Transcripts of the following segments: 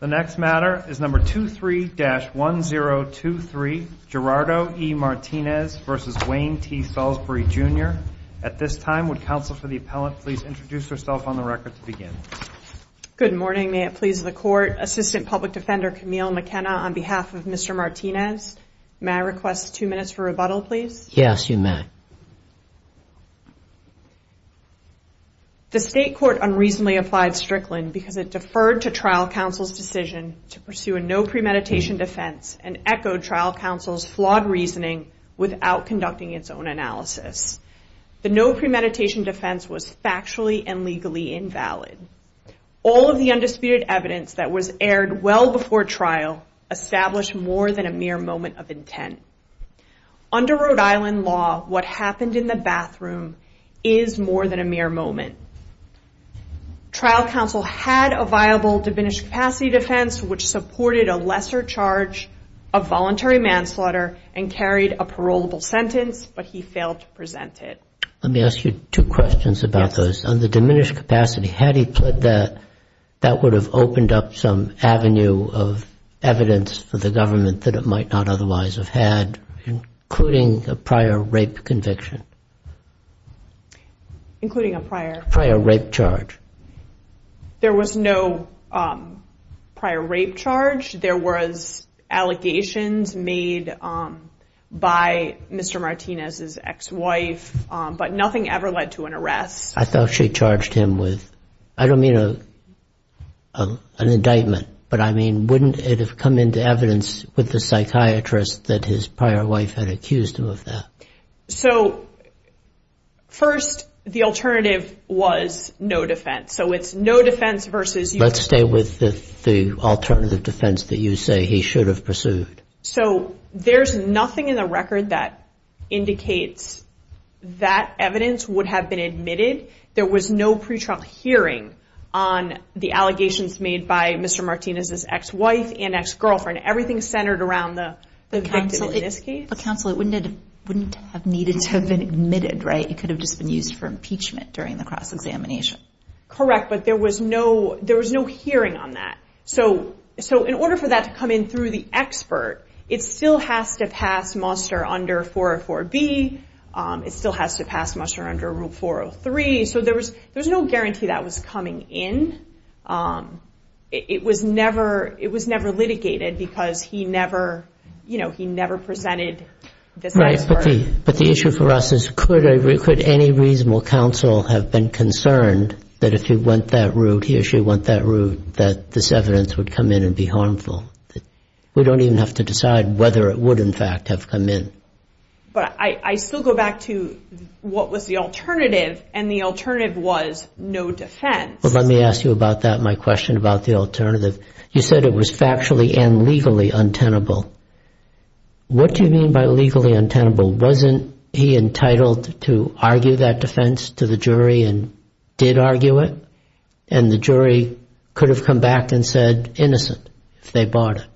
The next matter is number 23-1023, Gerardo E. Martinez v. Wayne T. Salisbury, Jr. At this time, would counsel for the appellant please introduce herself on the record to begin. Good morning. May it please the Court. Assistant Public Defender Camille McKenna on behalf of Mr. Martinez. May I request two minutes for rebuttal, please? Yes, you may. The State Court unreasonably applied Strickland because it deferred to trial counsel's decision to pursue a no premeditation defense and echoed trial counsel's flawed reasoning without conducting its own analysis. The no premeditation defense was factually and legally invalid. All of the undisputed evidence that was aired well before trial established more than a mere moment of intent. Under Rhode Island law, what happened in the bathroom is more than a mere moment. Trial counsel had a viable diminished capacity defense which supported a lesser charge of voluntary manslaughter and carried a parolable sentence, but he failed to present it. Let me ask you two questions about those. Yes. On the diminished capacity, had he pled that, that would have opened up some avenue of evidence for the government that it might not otherwise have had, including a prior rape conviction? Including a prior? Prior rape charge. There was no prior rape charge. There was allegations made by Mr. Martinez's ex-wife, but nothing ever led to an arrest. I thought she charged him with, I don't mean an indictment, but I mean wouldn't it have come into evidence with the psychiatrist that his prior wife had accused him of that? So, first, the alternative was no defense, so it's no defense versus... Let's stay with the alternative defense that you say he should have pursued. So, there's nothing in the record that indicates that evidence would have been admitted. There was no pre-trial hearing on the allegations made by Mr. Martinez's ex-wife and ex-girlfriend. Everything centered around the victim in this case. The counsel, it wouldn't have needed to have been admitted, right? It could have just been used for impeachment during the cross-examination. Correct, but there was no hearing on that. So, in order for that to come in through the expert, it still has to pass muster under 404B. It still has to pass muster under Rule 403. So, there was no guarantee that was coming in. It was never litigated because he never presented this expert. Right, but the issue for us is could any reasonable counsel have been concerned that if he went that route, he or she went that route, that this evidence would come in and be harmful? We don't even have to decide whether it would, in fact, have come in. But I still go back to what was the alternative, and the alternative was no defense. Well, let me ask you about that, my question about the alternative. You said it was factually and legally untenable. What do you mean by legally untenable? Wasn't he entitled to argue that defense to the jury and did argue it? And the jury could have come back and said innocent if they bought it.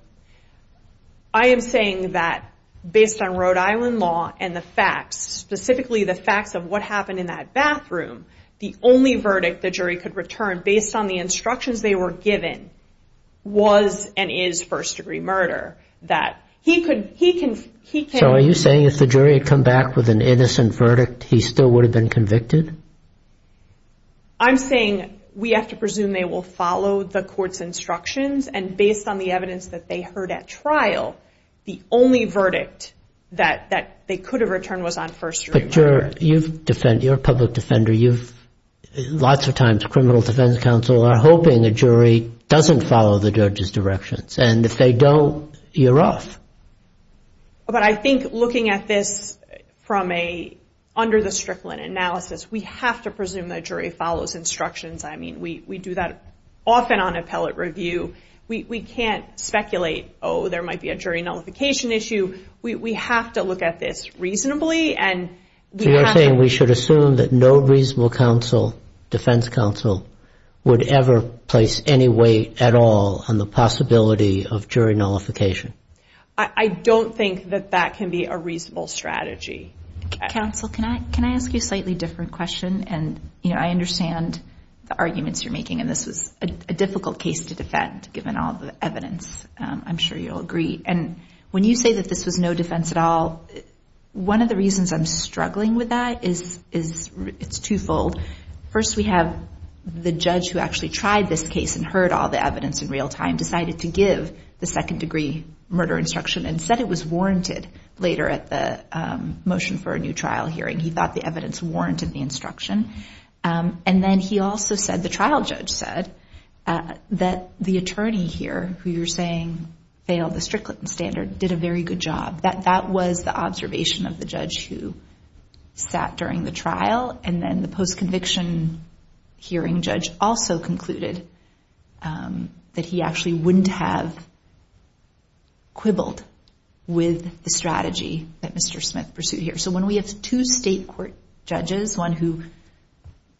I am saying that based on Rhode Island law and the facts, specifically the facts of what happened in that bathroom, the only verdict the jury could return based on the instructions they were given was and is first-degree murder. So, are you saying if the jury had come back with an innocent verdict, he still would have been convicted? I'm saying we have to presume they will follow the court's instructions and based on the evidence that they heard at trial, the only verdict that they could have returned was on first-degree murder. But you're a public defender. Lots of times criminal defense counsel are hoping a jury doesn't follow the judge's directions, and if they don't, you're off. But I think looking at this from under the Strickland analysis, we have to presume the jury follows instructions. I mean, we do that often on appellate review. We can't speculate, oh, there might be a jury nullification issue. We have to look at this reasonably. So you're saying we should assume that no reasonable counsel, defense counsel, would ever place any weight at all on the possibility of jury nullification? I don't think that that can be a reasonable strategy. Counsel, can I ask you a slightly different question? And, you know, I understand the arguments you're making, and this was a difficult case to defend given all the evidence. I'm sure you'll agree. And when you say that this was no defense at all, one of the reasons I'm struggling with that is it's twofold. First, we have the judge who actually tried this case and heard all the evidence in real time decided to give the second-degree murder instruction and said it was warranted later at the motion for a new trial hearing. He thought the evidence warranted the instruction. And then he also said, the trial judge said, that the attorney here, who you're saying failed the Strickland standard, did a very good job. That was the observation of the judge who sat during the trial, and then the post-conviction hearing judge also concluded that he actually wouldn't have quibbled with the strategy that Mr. Smith pursued here. So when we have two state court judges, one who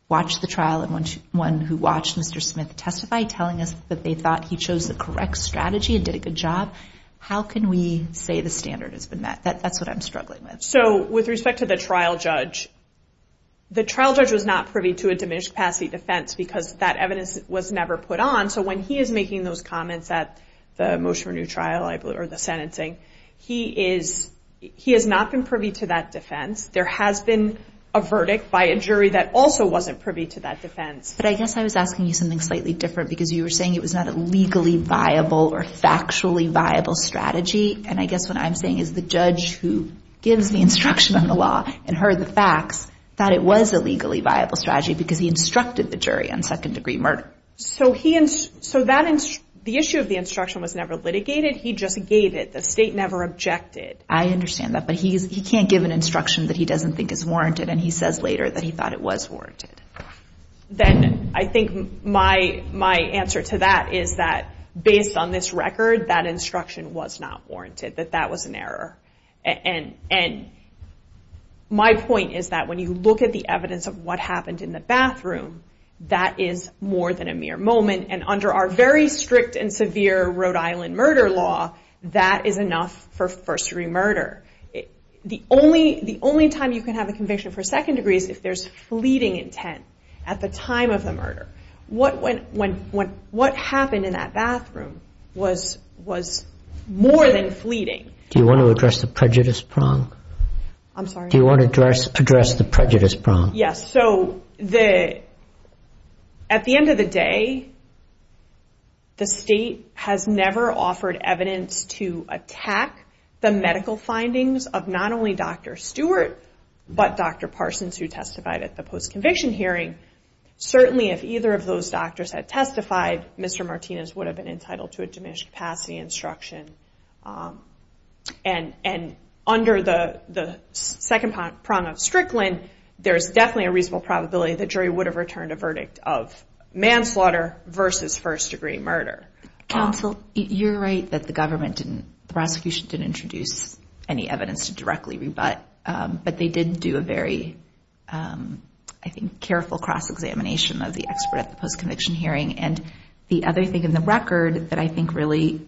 watched the trial and one who watched Mr. Smith testify, telling us that they thought he chose the correct strategy and did a good job, how can we say the standard has been met? That's what I'm struggling with. So with respect to the trial judge, the trial judge was not privy to a diminished capacity defense because that evidence was never put on. So when he is making those comments at the motion for a new trial or the sentencing, he has not been privy to that defense. There has been a verdict by a jury that also wasn't privy to that defense. But I guess I was asking you something slightly different, because you were saying it was not a legally viable or factually viable strategy. And I guess what I'm saying is the judge who gives the instruction on the law and heard the facts thought it was a legally viable strategy because he instructed the jury on second-degree murder. So the issue of the instruction was never litigated. He just gave it. The state never objected. I understand that, but he can't give an instruction that he doesn't think is warranted and he says later that he thought it was warranted. Then I think my answer to that is that based on this record, that instruction was not warranted, that that was an error. And my point is that when you look at the evidence of what happened in the bathroom, that is more than a mere moment. And under our very strict and severe Rhode Island murder law, that is enough for first-degree murder. The only time you can have a conviction for second-degree is if there's fleeting intent at the time of the murder. What happened in that bathroom was more than fleeting. Do you want to address the prejudice prong? I'm sorry? Do you want to address the prejudice prong? Yes, so at the end of the day, the state has never offered evidence to attack the medical findings of not only Dr. Stewart but Dr. Parsons who testified at the post-conviction hearing. Certainly if either of those doctors had testified, Mr. Martinez would have been entitled to a diminished capacity instruction. And under the second prong of Strickland, there's definitely a reasonable probability that jury would have returned a verdict of manslaughter versus first-degree murder. Counsel, you're right that the government didn't, the prosecution didn't introduce any evidence to directly rebut, but they did do a very, I think, careful cross-examination of the expert at the post-conviction hearing. And the other thing in the record that I think really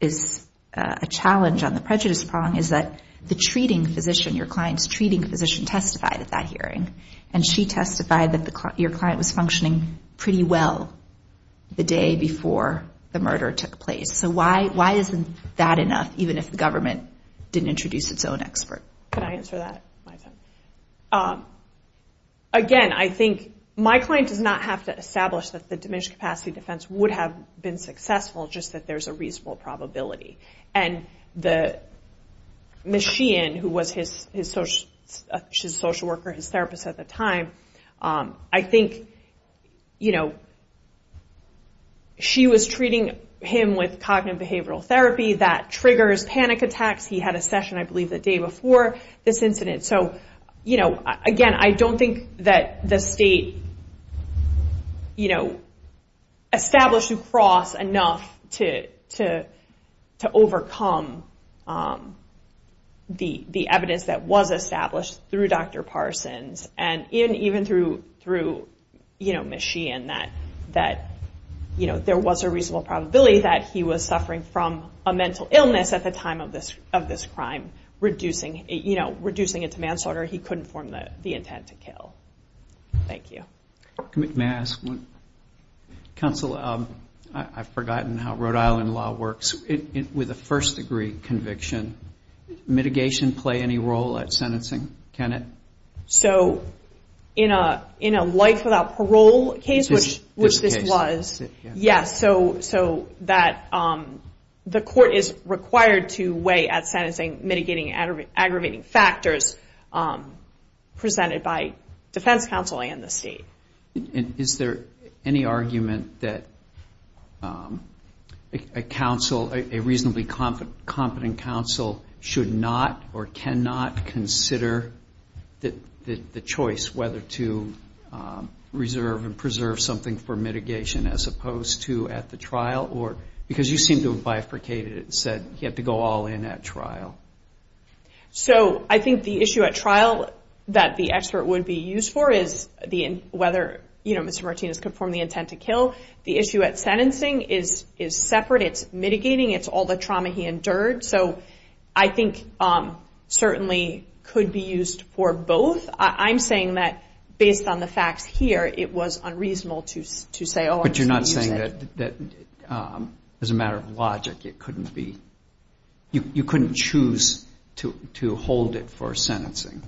is a challenge on the prejudice prong is that the treating physician, your client's treating physician, testified at that hearing. And she testified that your client was functioning pretty well the day before the murder took place. So why isn't that enough, even if the government didn't introduce its own expert? Can I answer that? Again, I think my client does not have to establish that the diminished capacity defense would have been successful, just that there's a reasonable probability. And Ms. Sheehan, who was his social worker, his therapist at the time, I think she was treating him with cognitive behavioral therapy that triggers panic attacks. He had a session, I believe, the day before this incident. So again, I don't think that the state established a cross enough to overcome the evidence that was established through Dr. Parsons and even through Ms. Sheehan that there was a reasonable probability that he was suffering from a mental illness at the time of this crime. Reducing it to manslaughter, he couldn't form the intent to kill. Thank you. Counsel, I've forgotten how Rhode Island law works. With a first degree conviction, mitigation play any role at sentencing? So in a life without parole case, which this was, yes, so that the court is required to weigh at sentencing mitigating and aggravating factors presented by defense counsel and the state. Is there any argument that a reasonably competent counsel should not or cannot consider the choice whether to reserve and preserve something for mitigation as opposed to at the trial? Because you seem to have bifurcated it and said he had to go all in at trial. So I think the issue at trial that the expert would be used for is whether Mr. Martinez could form the intent to kill. The issue at sentencing is separate. It's mitigating. It's all the trauma he endured. So I think certainly could be used for both. I'm saying that based on the facts here, it was unreasonable to say, oh, I'm just going to use it. But you're not saying that as a matter of logic it couldn't be, you couldn't choose to hold it for sentencing?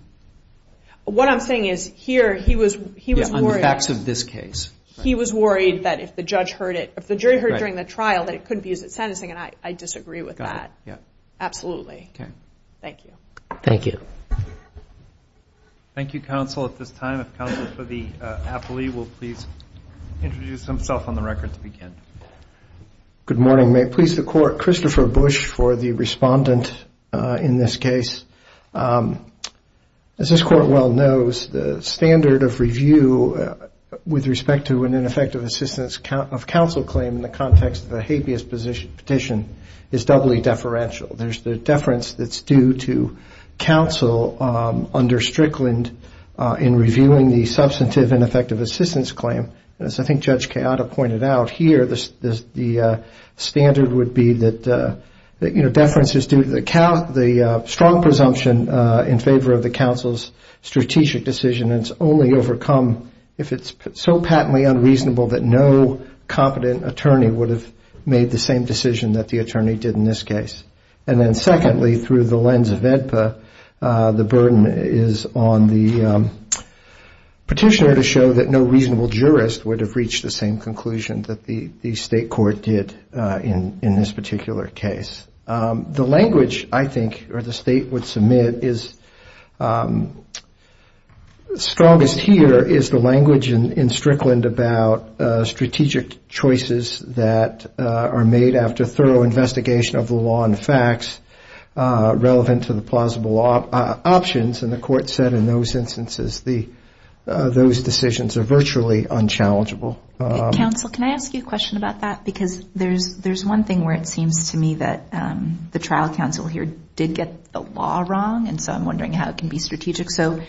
What I'm saying is here he was worried. Yeah, on the facts of this case. He was worried that if the judge heard it, if the jury heard it during the trial, that it couldn't be used at sentencing, and I disagree with that. Absolutely. Okay. Thank you. Thank you, counsel, at this time. If counsel for the appellee will please introduce himself on the record to begin. Good morning. May it please the Court. Christopher Bush for the respondent in this case. As this Court well knows, the standard of review with respect to an ineffective assistance of counsel claim in the context of a habeas petition is doubly deferential. There's the deference that's due to counsel under Strickland in reviewing the substantive and effective assistance claim. As I think Judge Keada pointed out here, the standard would be that, you know, deference is due to the strong presumption in favor of the counsel's strategic decision and it's only overcome if it's so patently unreasonable that no competent attorney would have made the same conclusion that the attorney did in this case. And then secondly, through the lens of AEDPA, the burden is on the petitioner to show that no reasonable jurist would have reached the same conclusion that the state court did in this particular case. The language, I think, or the state would submit is strongest here is the language in Strickland about strategic choices that are made after thorough investigation of the law and facts relevant to the plausible options. And the court said in those instances those decisions are virtually unchallengeable. Counsel, can I ask you a question about that? Because there's one thing where it seems to me that the trial counsel here did get the law wrong, and so I'm wondering how it can be strategic. So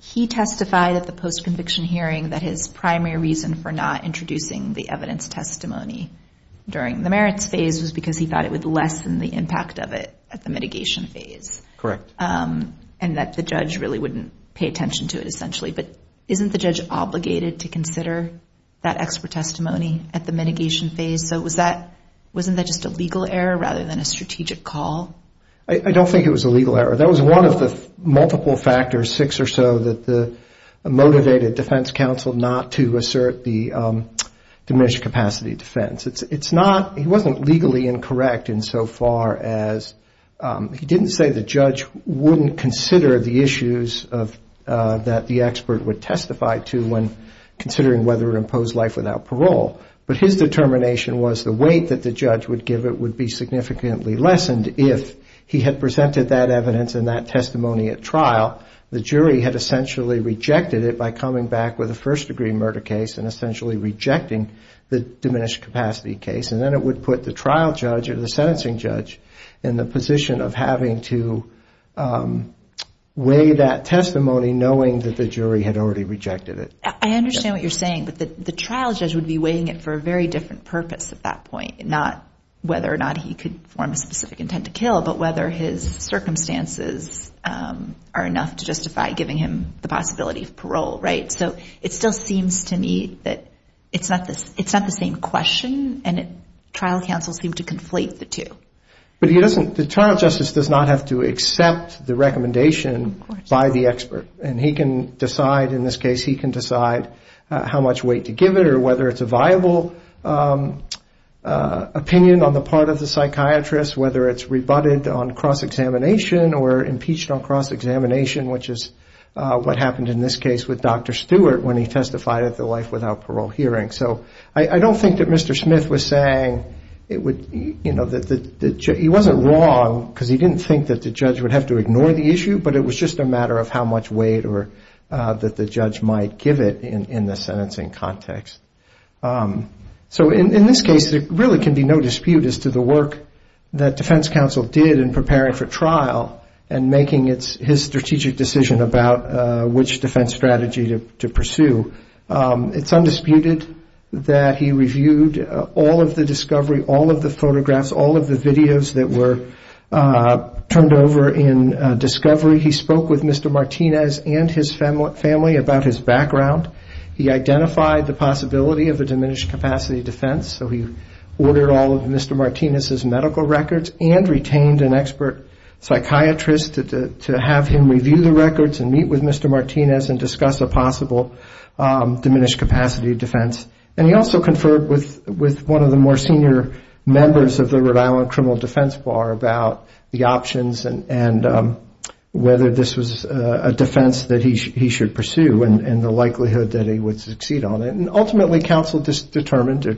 he testified at the post-conviction hearing that his primary reason for not introducing the evidence testimony during the merits phase was because he thought it would lessen the impact of it at the mitigation phase. Correct. And that the judge really wouldn't pay attention to it essentially. But isn't the judge obligated to consider that expert testimony at the mitigation phase? So wasn't that just a legal error rather than a strategic call? I don't think it was a legal error. That was one of the multiple factors, six or so, that motivated defense counsel not to assert the diminished capacity defense. It's not he wasn't legally incorrect in so far as he didn't say the judge wouldn't consider the issues that the expert would testify to when considering whether to impose life without parole. But his determination was the weight that the judge would give it would be significantly lessened if he had presented that evidence and that testimony at trial. The jury had essentially rejected it by coming back with a first-degree murder case and essentially rejecting the diminished capacity case. And then it would put the trial judge or the sentencing judge in the position of having to weigh that testimony knowing that the jury had already rejected it. I understand what you're saying, but the trial judge would be weighing it for a very different purpose at that point, not whether or not he could form a specific intent to kill, but whether his circumstances are enough to justify giving him the possibility of parole, right? So it still seems to me that it's not the same question, and trial counsel seemed to conflate the two. But the trial justice does not have to accept the recommendation by the expert. And he can decide, in this case, he can decide how much weight to give it, or whether it's a viable opinion on the part of the psychiatrist, whether it's rebutted on cross-examination or impeached on cross-examination, which is what happened in this case with Dr. Stewart when he testified at the life without parole hearing. So I don't think that Mr. Smith was saying it would, you know, he wasn't wrong, because he didn't think that the judge would have to ignore the issue, but it was just a matter of how much weight that the judge might give it in the sentencing context. So in this case, there really can be no dispute as to the work that defense counsel did in preparing for trial and making his strategic decision about which defense strategy to pursue. It's undisputed that he reviewed all of the discovery, all of the photographs, all of the videos that were turned over in discovery. He spoke with Mr. Martinez and his family about his background. He identified the possibility of a diminished capacity defense, so he ordered all of Mr. Martinez's medical records and retained an expert psychiatrist to have him review the records and meet with Mr. Martinez and discuss a possible diminished capacity defense. And he also conferred with one of the more senior members of the Rhode Island criminal defense bar about the options and whether this was a defense that he should pursue and the likelihood that he would succeed on it. And ultimately, counsel just determined or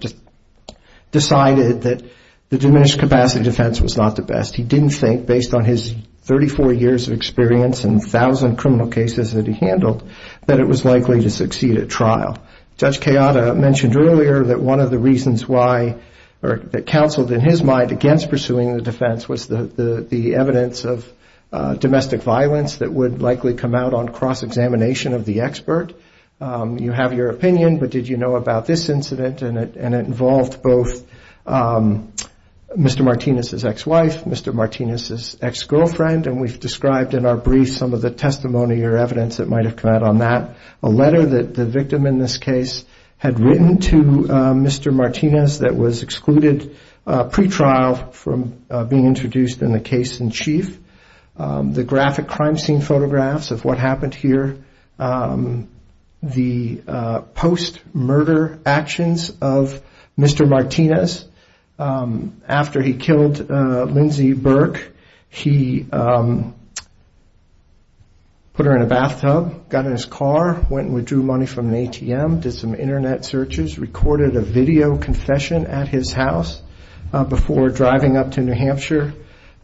decided that the diminished capacity defense was not the best. He didn't think, based on his 34 years of experience and 1,000 criminal cases that he handled, that it was likely to succeed at trial. Judge Kayada mentioned earlier that one of the reasons why, or that counseled in his mind, against pursuing the defense was the evidence of domestic violence that would likely come out on cross-examination of the expert. You have your opinion, but did you know about this incident? And it involved both Mr. Martinez's ex-wife, Mr. Martinez's ex-girlfriend, and we've described in our brief some of the testimony or evidence that might have come out on that. A letter that the victim in this case had written to Mr. Martinez that was excluded pre-trial from being introduced in the case in chief. The graphic crime scene photographs of what happened here. The post-murder actions of Mr. Martinez. After he killed Lindsey Burke, he put her in a bathtub, got in his car, went and withdrew money from an ATM, did some Internet searches, recorded a video confession at his house before driving up to New Hampshire,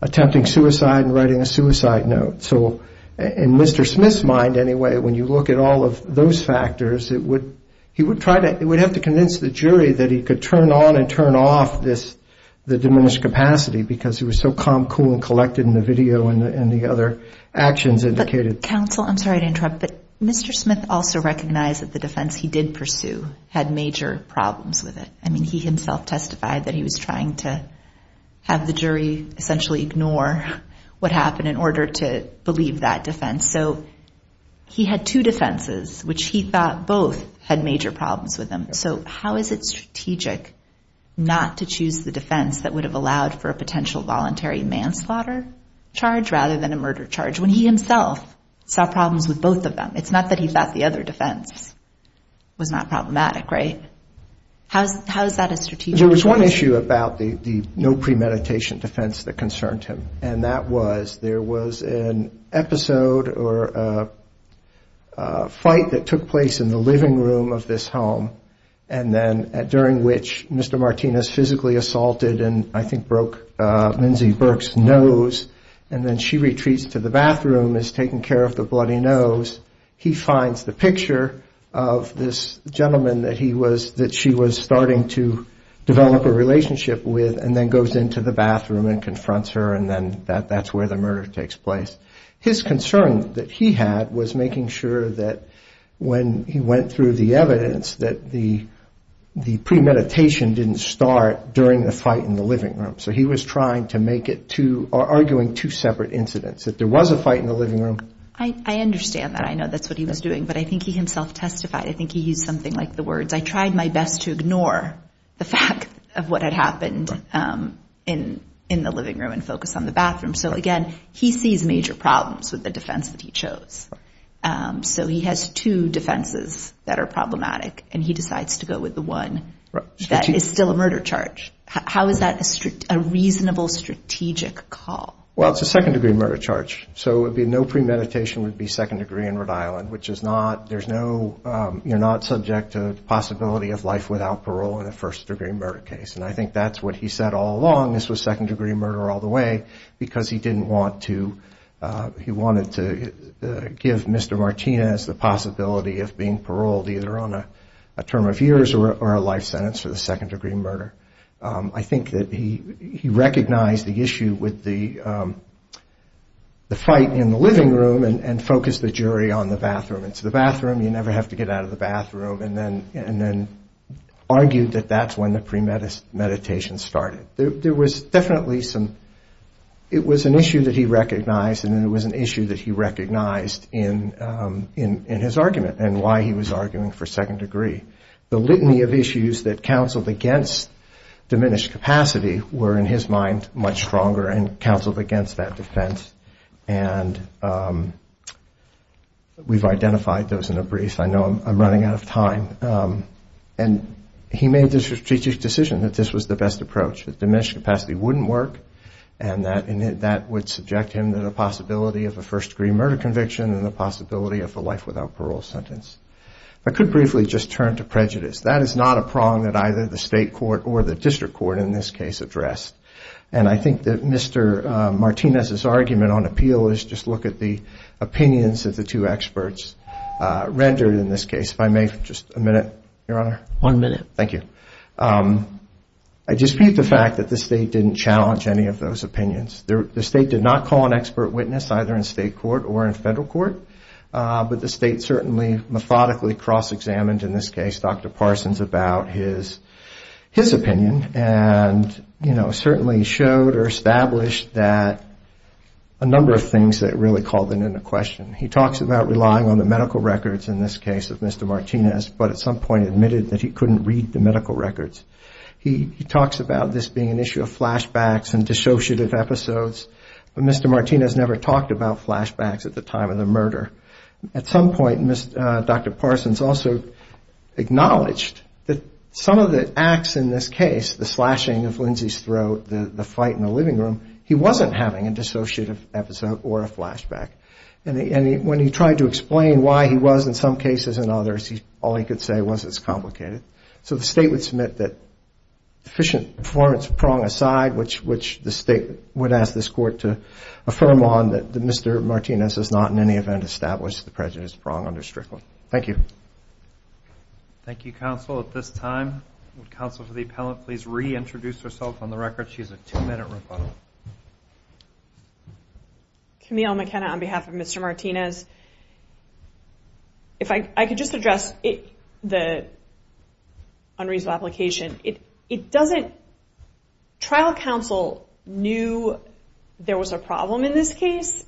attempting suicide and writing a suicide note. So in Mr. Smith's mind, anyway, when you look at all of those factors, it would have to convince the jury that he could turn on and turn off the diminished capacity because he was so calm, cool and collected in the video and the other actions indicated. Counsel, I'm sorry to interrupt, but Mr. Smith also recognized that the defense he did pursue had major problems with it. I mean, he himself testified that he was trying to have the jury essentially ignore what happened in order to believe that defense. So he had two defenses which he thought both had major problems with them. So how is it strategic not to choose the defense that would have allowed for a potential voluntary manslaughter charge rather than a murder charge when he himself saw problems with both of them? It's not that he thought the other defense was not problematic, right? How is that a strategic defense? There was an issue about the no premeditation defense that concerned him. And that was there was an episode or a fight that took place in the living room of this home and then during which Mr. Martinez physically assaulted and I think broke Lindsay Burke's nose and then she retreats to the bathroom as taking care of the bloody nose. He finds the picture of this gentleman that she was starting to develop a relationship with and then goes into the bathroom and confronts her and then that's where the murder takes place. His concern that he had was making sure that when he went through the evidence that the premeditation didn't start during the fight in the living room. So he was trying to make it to arguing two separate incidents. If there was a fight in the living room. I understand that. I know that's what he was doing, but I think he himself testified. I think he used something like the words I tried my best to ignore the fact of what had happened in the living room as a reasonable strategic call. Well, it's a second degree murder charge, so it would be no premeditation would be second degree in Rhode Island which is not there's no you're not subject to the possibility of life without parole in a first degree murder case. And I think that's what he said all along. This was second degree murder all the way because he didn't want to. He wanted to give Mr. Martinez the possibility of being paroled either on a term of years or a life sentence for the second degree murder. I think that he recognized the issue with the fight in the living room and focused the jury on the bathroom. It's the bathroom. You never have to get out of the bathroom and then argued that that's when the premeditation started. He recognized and it was an issue that he recognized in his argument and why he was arguing for second degree. The litany of issues that counseled against diminished capacity were in his mind much stronger and counseled against that defense. And we've identified those in a brief. I know I'm running out of time. And he made the strategic decision that this was the best approach. That diminished capacity wouldn't work and that would subject him to the possibility of a first degree murder conviction and the possibility of a life without parole sentence. I could briefly just turn to prejudice. That is not a prong that either the state court or the district court in this case addressed. And I think that Mr. Martinez's argument on appeal is just look at the opinions of the two experts rendered in this case. I dispute the fact that the state didn't challenge any of those opinions. The state did not call an expert witness either in state court or in federal court. But the state certainly methodically cross examined in this case Dr. Parsons about his opinion. And certainly showed or established that a number of things that really called it into question. He talks about relying on the medical records in this case of Mr. Martinez, but at some point admitted that he couldn't read the medical records. He talks about this being an issue of flashbacks and dissociative episodes. But Mr. Martinez never talked about flashbacks at the time of the murder. At some point Dr. Parsons also acknowledged that some of the acts in this case, the slashing of Lindsay's throat, the fight in the living room, he wasn't having a dissociative episode or a flashback. When he tried to explain why he was in some cases and others, all he could say was it's complicated. So the state would submit that efficient performance prong aside, which the state would ask this court to affirm on that Mr. Martinez has not in any event established the prejudice prong under Strickland. Thank you. Thank you counsel. On behalf of Mr. Martinez, if I could just address the unreasonable application. It doesn't trial counsel knew there was a problem in this case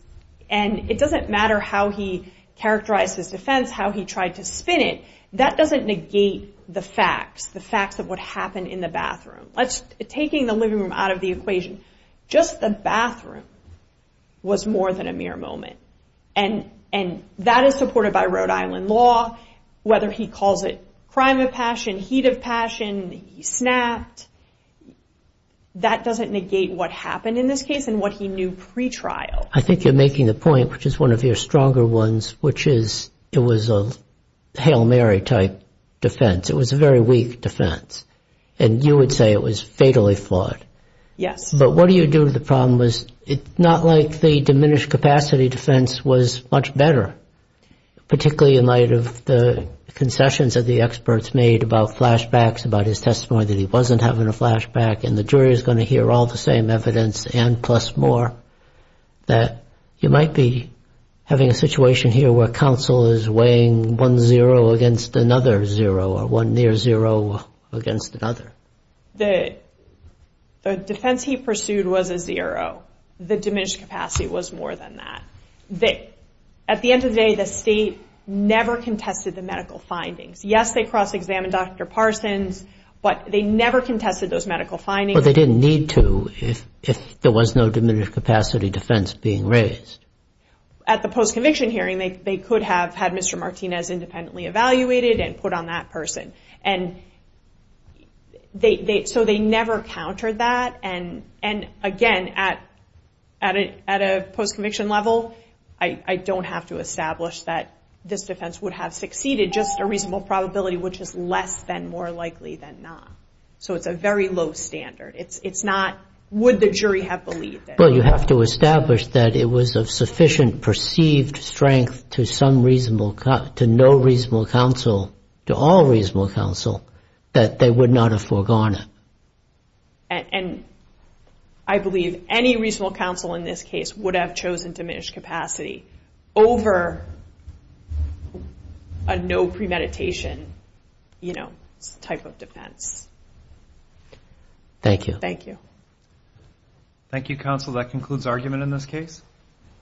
and it doesn't matter how he characterized his defense, how he tried to spin it. That doesn't negate the facts, the facts of what happened in the bathroom. Taking the living room out of the equation, just the bathroom was more than a mere moment. And that is supported by Rhode Island law, whether he calls it crime of passion, heat of passion, he snapped. That doesn't negate what happened in this case and what he knew pretrial. I think you're making the point, which is one of your stronger ones, which is it was a Hail Mary type defense. It was a very weak defense and you would say it was fatally flawed. Yes. But what do you do to the problem was not like the diminished capacity defense was much better, particularly in light of the concessions of the experts made about flashbacks, about his testimony that he wasn't having a flashback and the jury is going to hear all the same evidence and plus more. You might be having a situation here where counsel is weighing one zero against another zero or one near zero against another. The defense he pursued was a zero, the diminished capacity was more than that. At the end of the day, the state never contested the medical findings. Yes, they cross examined Dr. Parsons, but they never contested those medical findings. Well, they didn't need to if there was no diminished capacity defense being raised. At the post-conviction hearing, they could have had Mr. Martinez independently evaluated and put on that person. So they never countered that and again, at a post-conviction level, I don't have to establish that this defense would have succeeded, just a reasonable probability which is less than more likely than not. So it's a very low standard. Well, you have to establish that it was of sufficient perceived strength to some reasonable, to no reasonable counsel, to all reasonable counsel, that they would not have foregone it. And I believe any reasonable counsel in this case would have chosen diminished capacity over a no premeditation type of defense. Thank you.